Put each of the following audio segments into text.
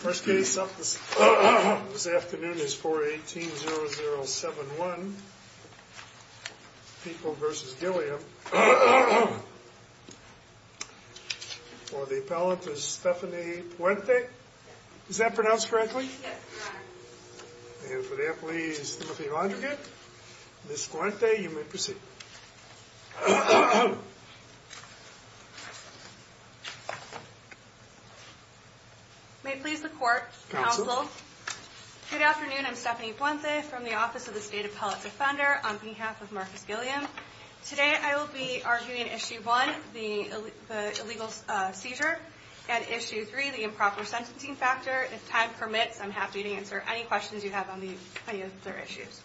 First case up this afternoon is 418-0071, People v. Gilliam, for the appellant is Stephanie Puente, is that pronounced correctly? And for the appellee is Timothy Londrigan, Ms. McCormick. May it please the court, counsel. Good afternoon, I'm Stephanie Puente from the Office of the State Appellate Defender on behalf of Marcus Gilliam. Today I will be arguing Issue 1, the illegal seizure, and Issue 3, the improper sentencing factor. If time permits, I'm happy to answer any questions you have on any of their issues.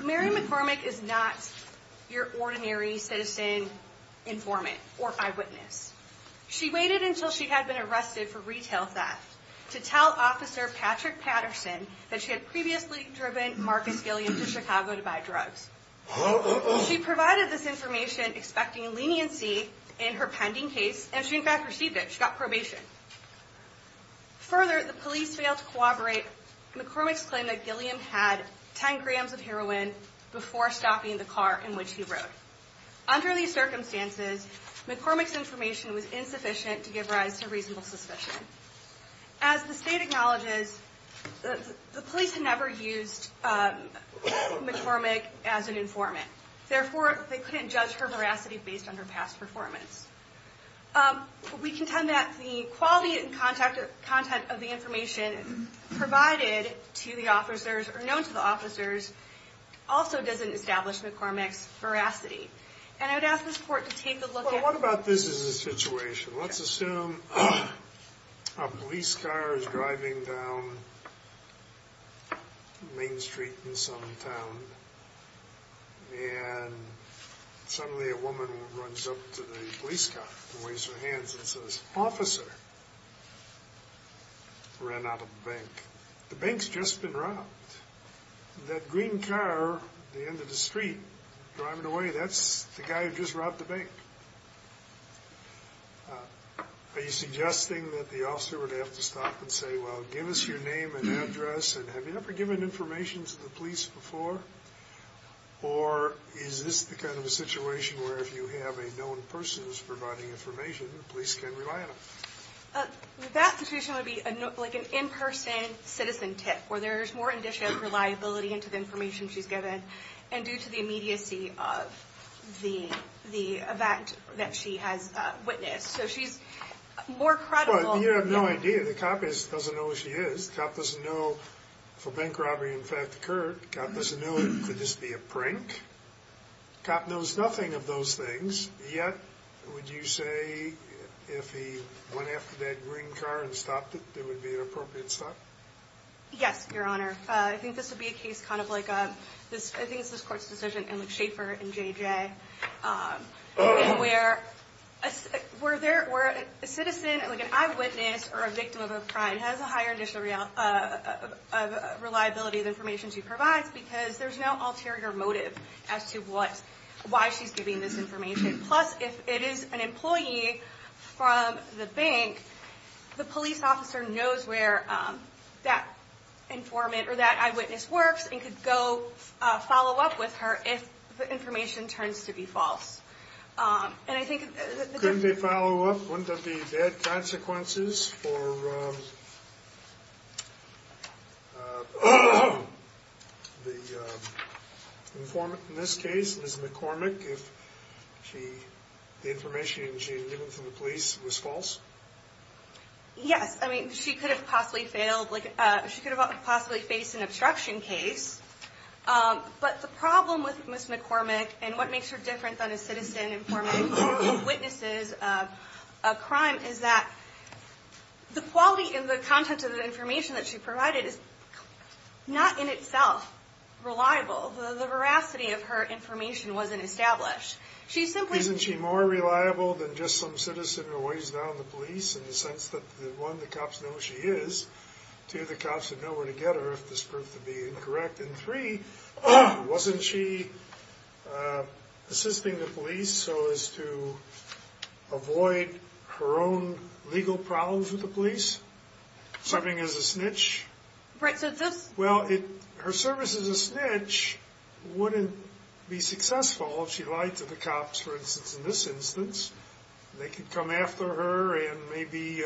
Mary McCormick is not your ordinary citizen informant or eyewitness. She waited until she had been arrested for retail theft to tell Officer Patrick Patterson that she had previously driven Marcus Gilliam to Chicago to buy drugs. She provided this information expecting leniency in her pending case, and she in fact received it, she got probation. Further, the police stopped me in the car in which he rode. Under these circumstances, McCormick's information was insufficient to give rise to reasonable suspicion. As the state acknowledges, the police had never used McCormick as an informant. Therefore, they couldn't judge her veracity based on her past performance. We contend that the quality and content of the information provided to the officers, or known to the officers, also doesn't establish McCormick's veracity. And I would ask this Court to take a look at... Well, what about this as a situation? Let's assume a police car is driving down Main Street in some town, and suddenly a woman runs up to the police car and waves her hands and says, I ran out of the bank. The bank's just been robbed. That green car at the end of the street driving away, that's the guy who just robbed the bank. Are you suggesting that the officer would have to stop and say, well, give us your name and address, and have you ever given information to the police before? Or is this the kind of a situation where if you have a known person who's providing information, the police can rely on them? That situation would be like an in-person citizen tip, where there's more indicia of reliability into the information she's given, and due to the immediacy of the event that she has witnessed. So she's more credible... But you have no idea. The cop just doesn't know who she is. The cop doesn't know if a bank robbery, in fact, occurred. The cop doesn't know it could just be a prank. The cop knows nothing of those things. Yet, would you say if he went after that green car and stopped it, there would be an appropriate stop? Yes, Your Honor. I think this would be a case kind of like a... I think it's this court's decision in Shaffer and JJ, where a citizen, like an eyewitness or a victim of a crime has a higher indicia of reliability of the information she provides, because there's no ulterior motive as to why she's giving this information. Plus, if it is an employee from the bank, the police officer knows where that informant or that eyewitness works and could go follow up with her if the information turns to be false. And I think... Couldn't they follow up? Wouldn't that be bad consequences for... Informant, in this case, Ms. McCormick, if the information she had given from the police was false? Yes. I mean, she could have possibly failed. She could have possibly faced an obstruction case. But the problem with Ms. McCormick and what makes her different than a citizen, informant, or eyewitnesses of a crime is that the quality and the content of the information that she provides is unreliable. The veracity of her information wasn't established. She simply... Isn't she more reliable than just some citizen who weighs down the police, in the sense that one, the cops know who she is. Two, the cops would know where to get her if this proved to be incorrect. And three, wasn't she assisting the police so as to avoid her own legal problems with the police? Serving as a snitch? Right, so this... Well, her service as a snitch wouldn't be successful if she lied to the cops, for instance, in this instance. They could come after her and maybe,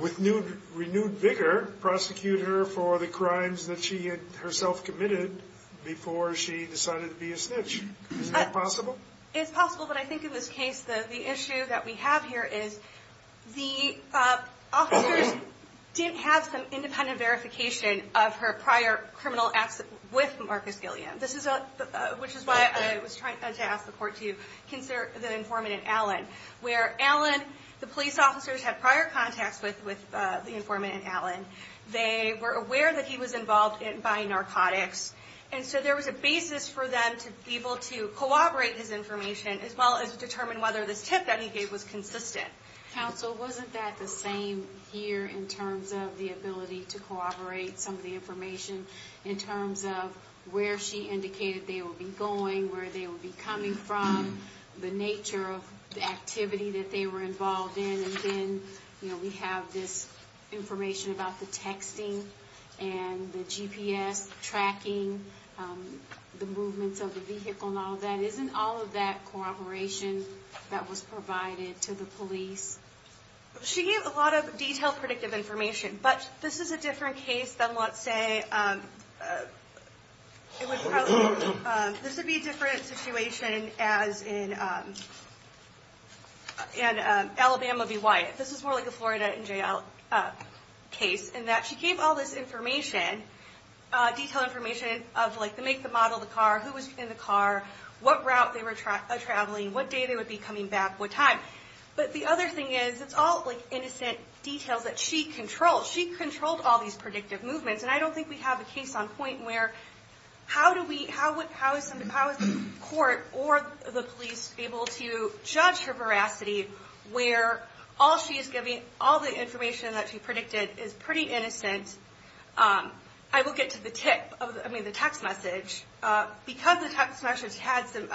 with renewed vigor, prosecute her for the crimes that she had herself committed before she decided to be a snitch. Is that possible? It's possible, but I think in this case, the issue that we have here is the officers didn't have some independent verification of her prior criminal acts with Marcus Gilliam, which is why I was trying to ask the court to consider the informant in Allen. Where Allen, the police officers had prior contacts with the informant in Allen. They were aware that he was involved in buying narcotics, and so there was a basis for them to be able to corroborate his information as well as determine whether this tip that he gave was consistent. Counsel, wasn't that the same here in terms of the ability to corroborate some of the information in terms of where she indicated they would be going, where they would be coming from, the nature of the activity that they were involved in, and then we have this information about the texting and the GPS tracking, the movements of the vehicle and all of that. Isn't all of that corroboration that was provided to the police? She gave a lot of detailed predictive information, but this is a different case than let's say this would be a different situation as in Alabama v. Wyatt. This is more like a Florida jail case in that she gave all this information, detailed information of the make, the model, the car, who was in the car, what route they were traveling, what day they would be coming back, what time, but the other thing is it's all innocent details that she controlled. She controlled all these predictive movements, and I don't think we have a case on point where how is the court or the police able to judge her veracity where all she is giving, all the information that she predicted is pretty innocent. I will get to the text message because the text message had some,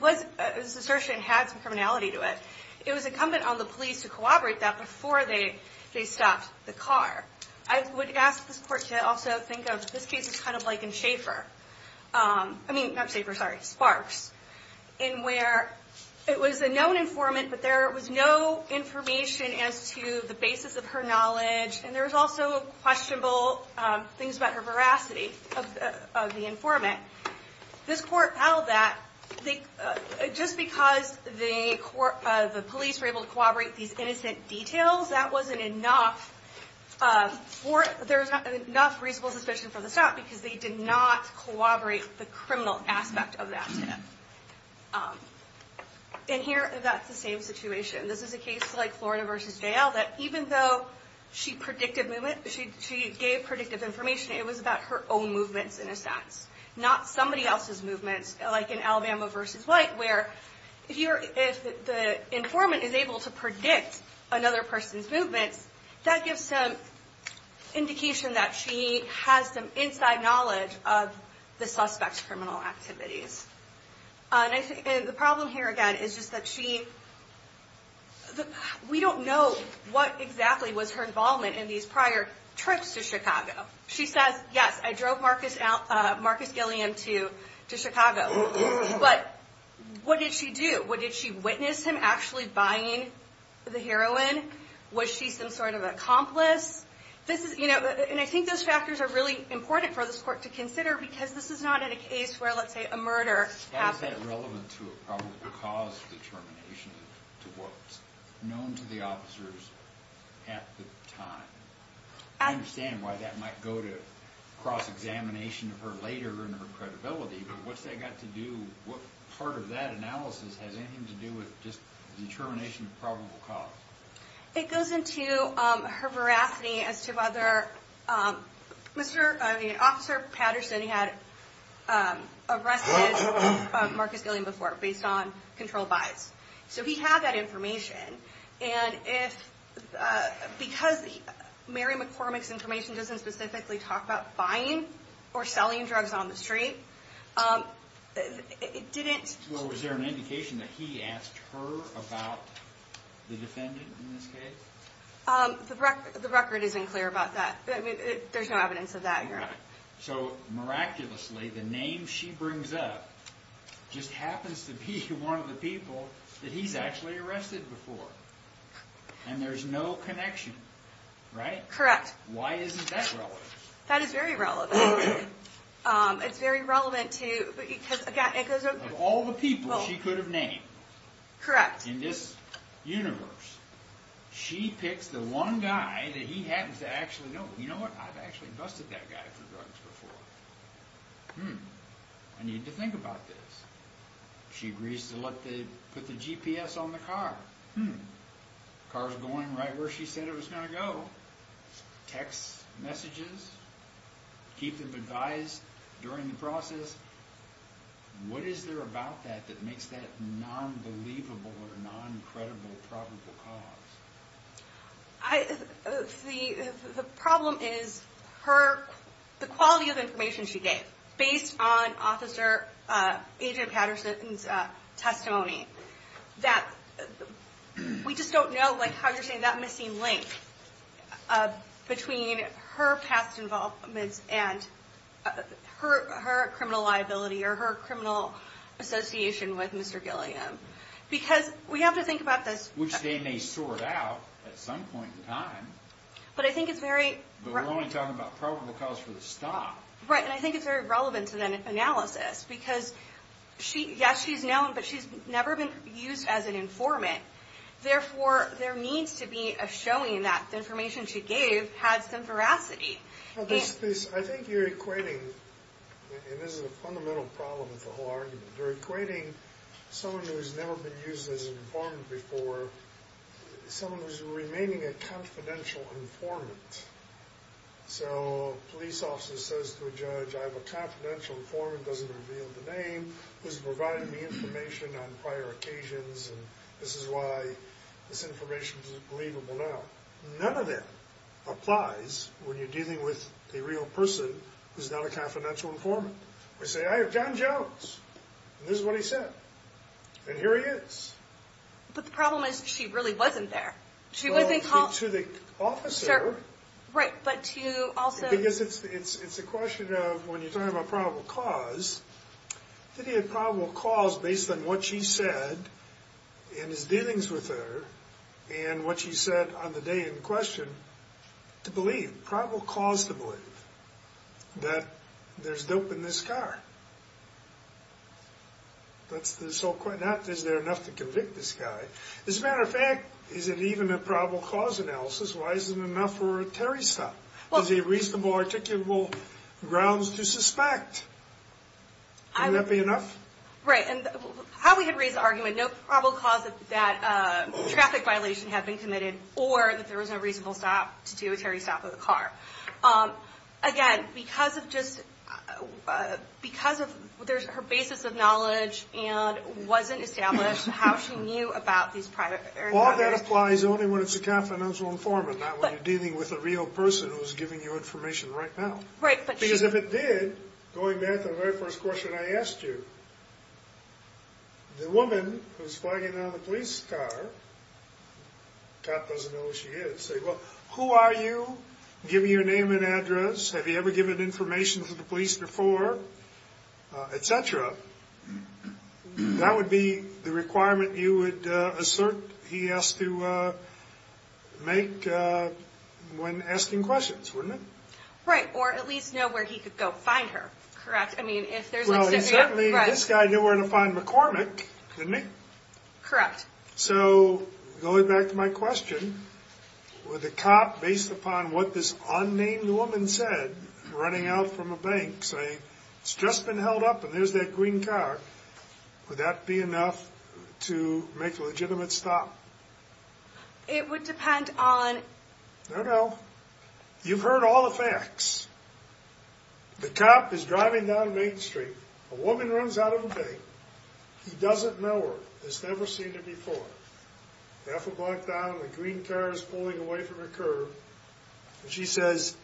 this assertion had some criminality to it. It was incumbent on the police to corroborate that before they stopped the car. I would ask this court to also think of this case as kind of like in Schaefer, I mean not Schaefer, sorry, Sparks, in where it was a known informant, but there was no information as to the basis of her informant. This court held that just because the police were able to corroborate these innocent details, that wasn't enough for, there's not enough reasonable suspicion for the stop because they did not corroborate the criminal aspect of that tip. In here, that's the same situation. This is a case like Florida v. JL that even though she predicted movement, she gave predictive information, it was about her own movements in a sense, not somebody else's movements like in Alabama v. White where if the informant is able to predict another person's movements, that gives some indication that she has some inside knowledge of the suspect's criminal activities. The problem here again is just that she, we don't know what exactly was her involvement in these prior trips to Chicago. She says, yes, I drove Marcus Gilliam to Chicago, but what did she do? Did she witness him actually buying the heroin? Was she some sort of an accomplice? I think those factors are really important for this court to consider because this is not a case where let's say a murder happens. How is that relevant to a probable cause determination to what's known to the officers at the time? I understand why that might go to cross-examination of her later in her credibility, but what's that got to do, what part of that analysis has anything to do with just determination of probable cause? It goes into her veracity as to whether Officer Patterson had arrested Marcus Gilliam before based on controlled bias. He had that information and because Mary McCormick's information doesn't specifically talk about buying or selling drugs on the street, it didn't... Was there an indication that he asked her about the defendant in this case? The record isn't clear about that. There's no evidence of that, Your Honor. Miraculously, the name she brings up just happens to be one of the people that he's actually arrested before and there's no connection, right? Correct. Why isn't that relevant? That is very relevant. It's very relevant to... Of all the people she could have named... Correct. ...in this universe, she picks the one guy that he happens to actually know. You know what, I've actually busted that guy for drugs before. Hmm, I need to think about this. She agrees to put the GPS on the car. Hmm, the car's going right where she said it was going to go. Text messages, keep them advised during the process. What is there about that that makes that non-believable or non-credible probable cause? The problem is the quality of information she gave based on Officer Adrian Patterson's We just don't know how you're saying that missing link between her past involvement and her criminal liability or her criminal association with Mr. Gilliam. Because we have to think about this... Which they may sort out at some point in time. But I think it's very... But we're only talking about probable cause for the stop. Right, and I think it's very relevant to that analysis because yes, she's known, but she's never been used as an informant. Therefore, there needs to be a showing that the information she gave had some veracity. I think you're equating, and this is a fundamental problem with the whole argument, you're equating someone who's never been used as an informant before, someone who's remaining a confidential informant. So a police officer says to a judge, I have a confidential informant, doesn't reveal the name, who's provided me information on prior occasions, and this is why this information is believable now. None of that applies when you're dealing with a real person who's not a confidential informant. We say, I have John Jones, and this is what he said, and here he is. But the problem is she really wasn't there. Well, to the officer... Right, but to also... It's a question of when you're talking about probable cause, did he have probable cause based on what she said in his dealings with her and what she said on the day in question to believe, probable cause to believe that there's dope in this car? Is there enough to convict this guy? As a matter of fact, is it even a probable cause analysis? Why are there any reasonable, articulable grounds to suspect? Would that be enough? Right, and how we could raise the argument, no probable cause of that traffic violation had been committed or that there was no reasonable stop to do a territory stop of the car. Again, because of just, because of her basis of knowledge and wasn't established, how she knew about these private areas... All that applies only when it's a confidential informant, not when you're dealing with a Because if it did, going back to the very first question I asked you, the woman who's flagging down the police car, the cop doesn't know who she is, say, well, who are you? Give me your name and address. Have you ever given information to the police before? Et cetera. That would be the requirement you would assert he has to make when asking questions, wouldn't he? Right, or at least know where he could go find her, correct? I mean, if there's... Well, he certainly, this guy knew where to find McCormick, didn't he? Correct. So, going back to my question, would the cop, based upon what this unnamed woman said, running out from a bank saying, it's just been held up and there's that green car, would that be enough to make a legitimate stop? It would depend on... No, no. You've heard all the facts. The cop is driving down Main Street. A woman runs out of a bank. He doesn't know her. He's never seen her before. Half a block down, a green car is pulling away from her curb, and she says,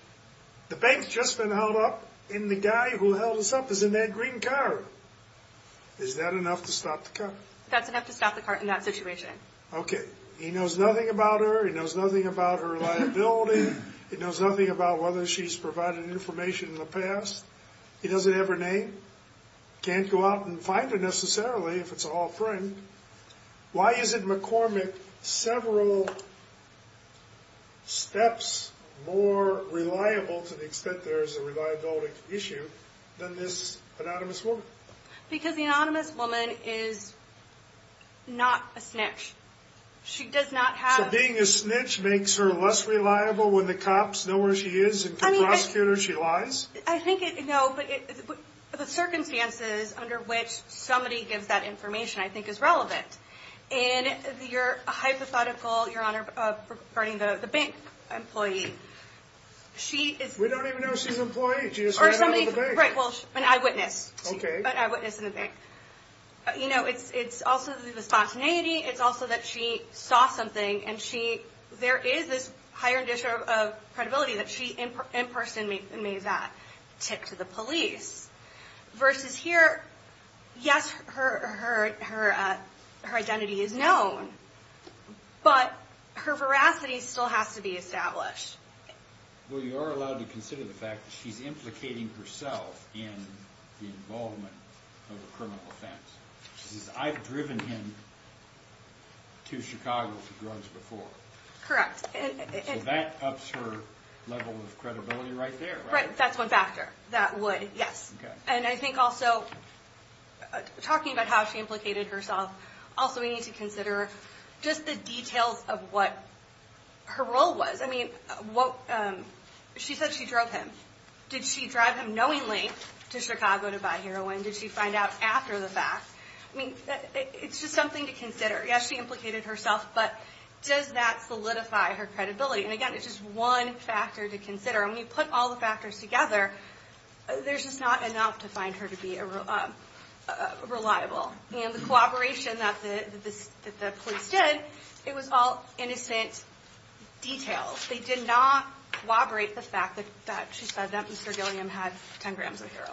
the bank's just been held up, and the guy who held us up is in that green car. Is that enough to stop the cop? That's enough to stop the cop in that situation. Okay. He knows nothing about her. He knows nothing about her liability. He knows nothing about whether she's provided information in the past. He doesn't have her name. Can't go out and find her, necessarily, if it's an old friend. Why isn't McCormick several steps more reliable, to the extent there is a reliability issue, than this anonymous woman? Because the anonymous woman is not a snitch. She does not have... So being a snitch makes her less reliable when the cops know where she is and can prosecute her if she lies? I think, no, but the circumstances under which somebody gives that information, I think, is relevant. In your hypothetical, Your Honor, regarding the bank employee, she is... We don't even know if she's an employee. She just ran out of the bank. Right. Well, an eyewitness. An eyewitness in the bank. It's also the spontaneity. It's also that she saw something, and there is this higher issue of credibility that she, in person, made that tip to the police. Versus here, yes, her identity is known, but her veracity still has to be established. Well, you are allowed to consider the fact that she's implicating herself in the involvement of a criminal offense. She says, I've driven him to Chicago for drugs before. Correct. So that ups her level of credibility right there, right? Right. That's one factor. That would, yes. And I think also, talking about how she implicated herself, also we need to consider just the details of what her role was. I mean, she said she drove him. Did she drive him knowingly to Chicago to buy heroin? Did she find out after the fact? I mean, it's just something to consider. Yes, she implicated herself, but does that solidify her credibility? And again, it's just one factor to consider. When you put all the factors together, there's just not enough to find her to be reliable. And the cooperation that the police did, it was all innocent details. They did not corroborate the fact that she said that Mr. Gilliam had 10 grams of heroin.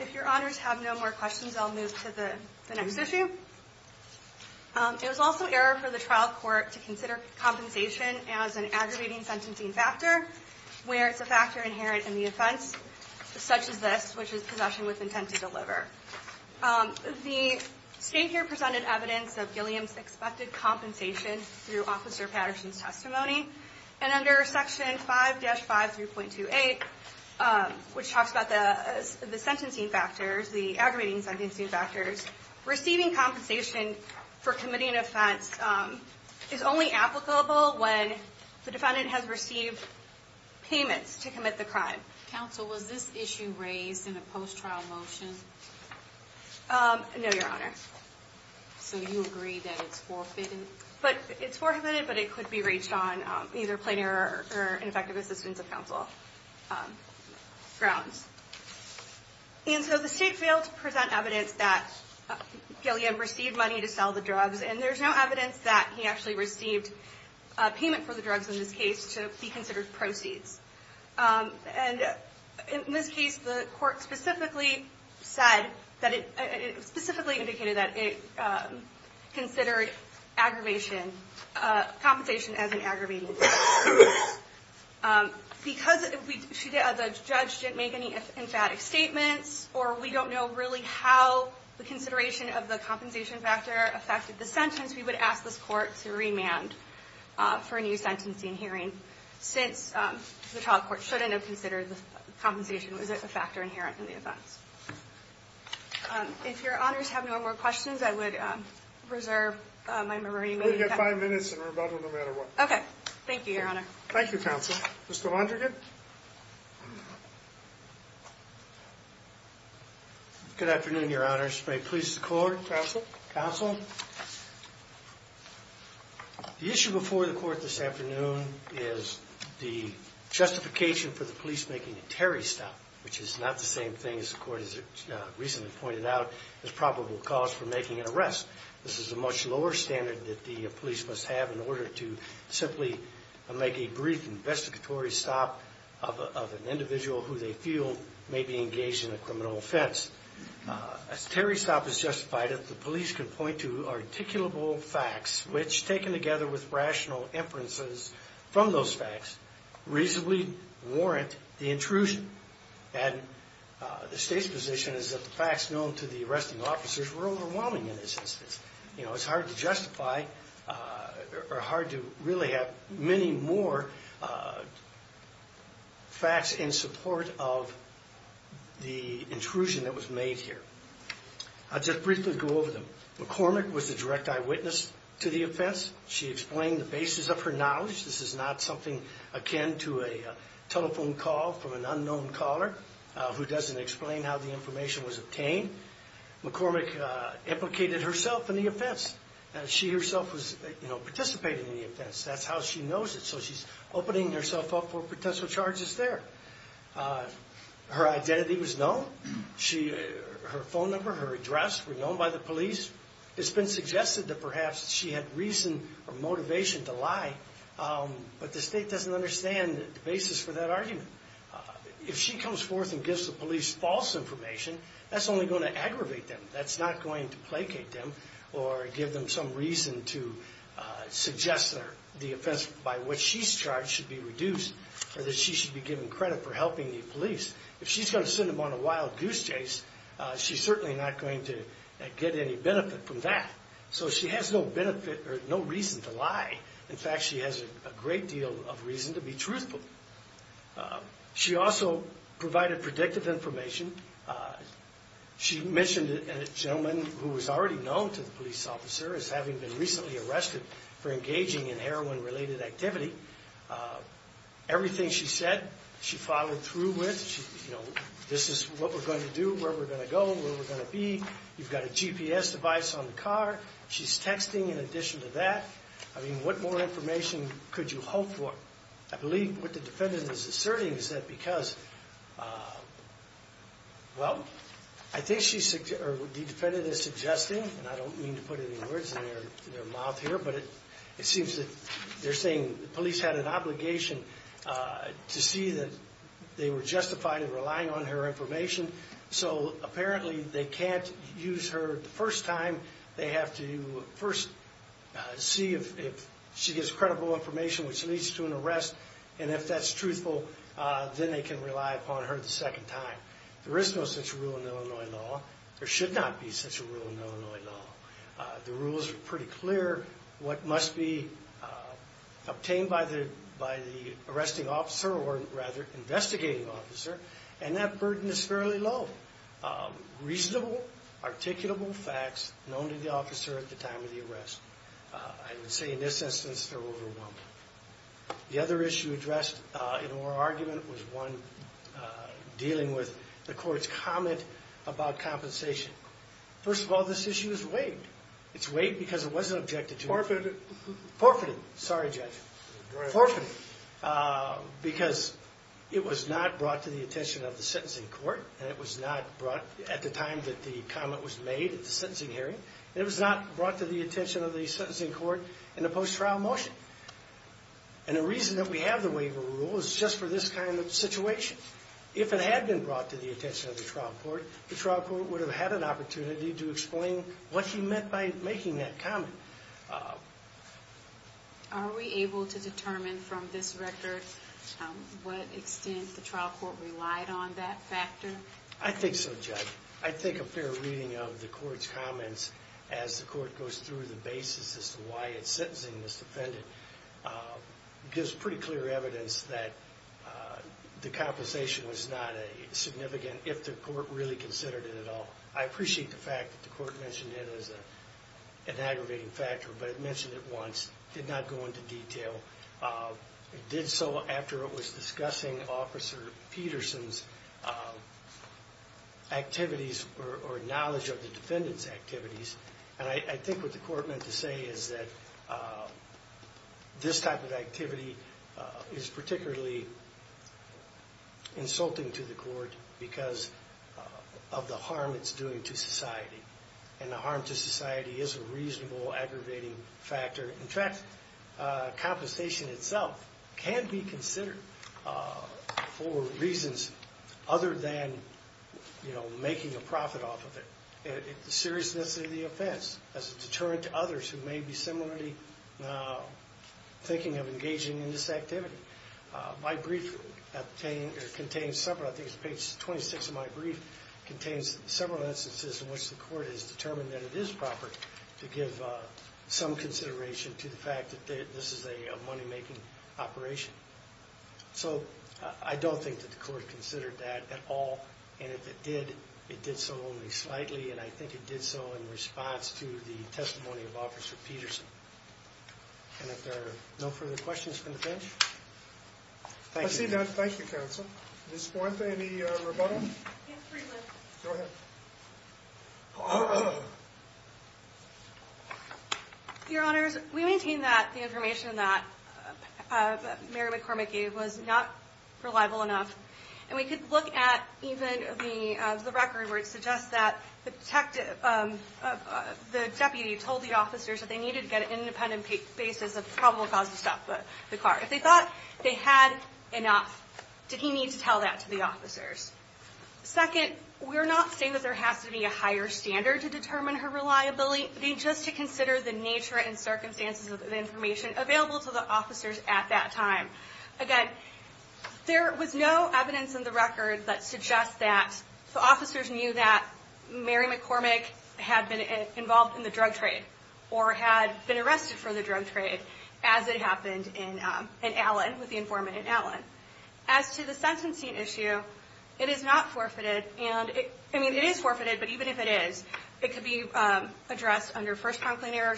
If your honors have no more questions, I'll move to the next issue. It was also error for the trial court to consider compensation as an aggravating sentencing factor, where it's a factor inherent in the offense, such as this, which is possession with intent to deliver. The state here presented evidence of Gilliam's expected compensation through Officer Patterson's testimony. And under Section 5-5-3.28, which talks about the sentencing factors, the aggravating sentencing factors, receiving compensation for committing an offense is only applicable when the defendant has received payments to commit the crime. Counsel, was this issue raised in a post-trial motion? No, your honor. So you agree that it's forfeited? It's forfeited, but it could be reached on either plain error or ineffective assistance of counsel grounds. And so the state failed to present evidence that Gilliam received money to sell the drugs, and there's no evidence that he actually received payment for the drugs in this case to be considered proceeds. And in this case, the court specifically said that it specifically indicated that it considered aggravation, compensation as an aggravating sentence. Because the judge didn't make any emphatic statements, or we don't know really how the consideration of the compensation factor affected the sentence, we would ask this court to remand for a new sentencing hearing, since the trial court shouldn't have considered the compensation factor inherent in the offense. If your honors have no more questions, I would reserve my memory. We've got five minutes, and we're about to go no matter what. Okay. Thank you, your honor. Thank you, counsel. Mr. Londrigan? Good afternoon, your honors. May it please the court? Counsel. Counsel. The issue before the court this afternoon is the justification for the police making a Terry stop, which is not the same thing as the court has recently pointed out as probable cause for making an arrest. This is a much lower standard that the police must have in order to simply make a brief investigatory stop of an individual who they feel may be engaged in a criminal offense. As Terry stop is justified, the police can point to articulable facts which, taken together with rational inferences from those facts, reasonably warrant the intrusion. And the state's position is that the facts known to the arresting officers were overwhelming in this instance. You know, it's hard to justify or hard to really have many more facts in support of the intrusion that was made here. I'll just briefly go over them. McCormick was the direct eyewitness to the offense. She explained the basis of her knowledge. This is not something akin to a telephone call from an unknown caller who doesn't explain how the information was obtained. McCormick implicated herself in the offense. She herself was, you know, participating in the offense. That's how she knows it. So she's opening herself up for potential charges there. Her identity was known. Her phone number, her address were known by the police. It's been suggested that perhaps she had reason or motivation to lie, but the state doesn't understand the basis for that argument. If she comes forth and gives the police false information, that's only going to aggravate them. That's not going to placate them or give them some reason to suggest that the offense by which she's charged should be reduced or that she should be given credit for helping the police. If she's going to send them on a wild goose chase, she's certainly not going to get any benefit from that. So she has no benefit or no reason to lie. In fact, she has a great deal of reason to be truthful. She also provided predictive information. She mentioned a gentleman who was already known to the police officer as having been recently arrested for engaging in heroin-related activity. Everything she said, she followed through with. You know, this is what we're going to do, where we're going to go, where we're going to be. You've got a GPS device on the car. She's texting in addition to that. I mean, what more information could you hope for? I believe what the defendant is asserting is that because, well, I think the defendant is suggesting, and I don't mean to put any words in their mouth here, but it seems that they're saying the police had an obligation to see that they were justified in relying on her information. So apparently they can't use her the first time. They have to first see if she gives credible information which leads to an arrest, and if that's truthful, then they can rely upon her the second time. There is no such rule in Illinois law. There should not be such a rule in Illinois law. The rules are pretty clear. What must be obtained by the arresting officer, or rather, investigating officer, and that burden is fairly low. Reasonable, articulable facts known to the officer at the time of the arrest. I would say in this instance they're overwhelmed. The other issue addressed in oral argument was one dealing with the court's comment about compensation. First of all, this issue is waived. It's waived because it wasn't objected to. Forfeited. Forfeited. Sorry, Judge. Forfeited. Because it was not brought to the attention of the sentencing court, and it was not brought at the time that the comment was made at the sentencing hearing, and it was not brought to the attention of the sentencing court in a post-trial motion. And the reason that we have the waiver rule is just for this kind of situation. If it had been brought to the attention of the trial court, the trial court would have had an opportunity to explain what he meant by making that comment. Are we able to determine from this record what extent the trial court relied on that factor? I think so, Judge. I think a fair reading of the court's comments as the court goes through the basis as to why it's sentencing this defendant gives pretty clear evidence that the compensation was not significant if the court really considered it at all. I appreciate the fact that the court mentioned it as an aggravating factor, but it mentioned it once. It did not go into detail. It did so after it was discussing Officer Peterson's activities or knowledge of the defendant's activities. And I think what the court meant to say is that this type of activity is particularly insulting to the court because of the harm it's doing to society. And the harm to society is a reasonable aggravating factor. In fact, compensation itself can be considered for reasons other than, you know, making a profit off of it. The seriousness of the offense is a deterrent to others who may be similarly thinking of engaging in this activity. My brief contains several instances in which the court has determined that it is proper to give some consideration to the fact that this is a money-making operation. So I don't think that the court considered that at all, and if it did, it did so only slightly, and I think it did so in response to the testimony of Officer Peterson. And if there are no further questions from the bench, thank you. I see that. Thank you, Counsel. Ms. Fuente, any rebuttal? Yes, please. Go ahead. Your Honors, we maintain that the information that Mary McCormick gave was not reliable enough, and we could look at even the record where it suggests that the deputy told the officers that they needed to get an independent basis of probable cause to stop the car. If they thought they had enough, did he need to tell that to the officers? Second, we're not saying that there has to be a higher standard to determine her reliability. We just consider the nature and circumstances of the information available to the officers at that time. Again, there was no evidence in the record that suggests that the officers knew that Mary McCormick had been involved in the drug trade or had been arrested for the drug trade as it happened in Allen, with the informant in Allen. As to the sentencing issue, it is not forfeited, and I mean, it is forfeited, but even if it is, it could be addressed under first prompt later.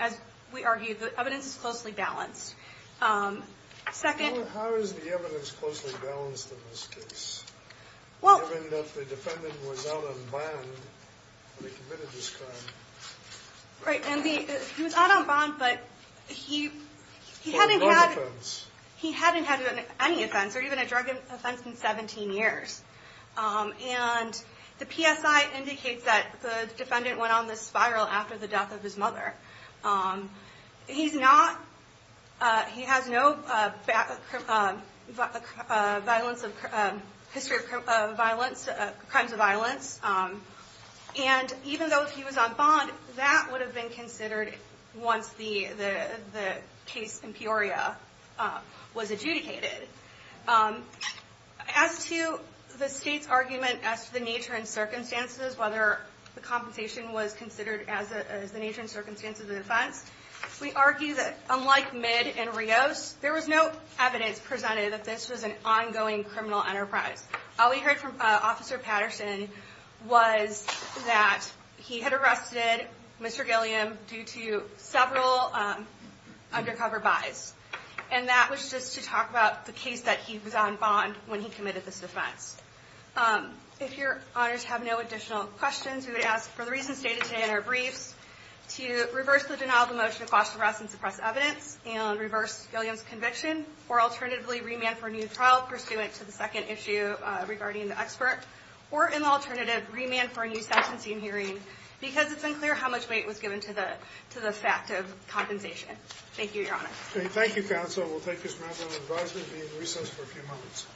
As we argued, the evidence is closely balanced. How is the evidence closely balanced in this case, given that the defendant was out on bond when he committed this crime? Right, and he was out on bond, but he hadn't had any offense or even a drug offense in the case of his mother. He has no history of crimes of violence, and even though he was on bond, that would have been considered once the case in Peoria was adjudicated. As to the state's argument as to the nature and circumstances, whether the compensation was considered as the nature and circumstances of the offense, we argue that unlike Midd and Rios, there was no evidence presented that this was an ongoing criminal enterprise. All we heard from Officer Patterson was that he had arrested Mr. Gilliam due to several undercover buys, and that was just to talk about the case that he was on bond when he committed this offense. If your honors have no additional questions, we would ask for the reasons stated today in our briefs to reverse the denial of a motion to quash the arrest and suppress evidence, and reverse Gilliam's conviction, or alternatively remand for a new trial pursuant to the second issue regarding the expert, or in the alternative, remand for a new sentencing hearing, because it's unclear how much weight was given to the fact of compensation. Thank you, your honors. Thank you, counsel. We'll take this matter under advisement and be in recess for a few moments.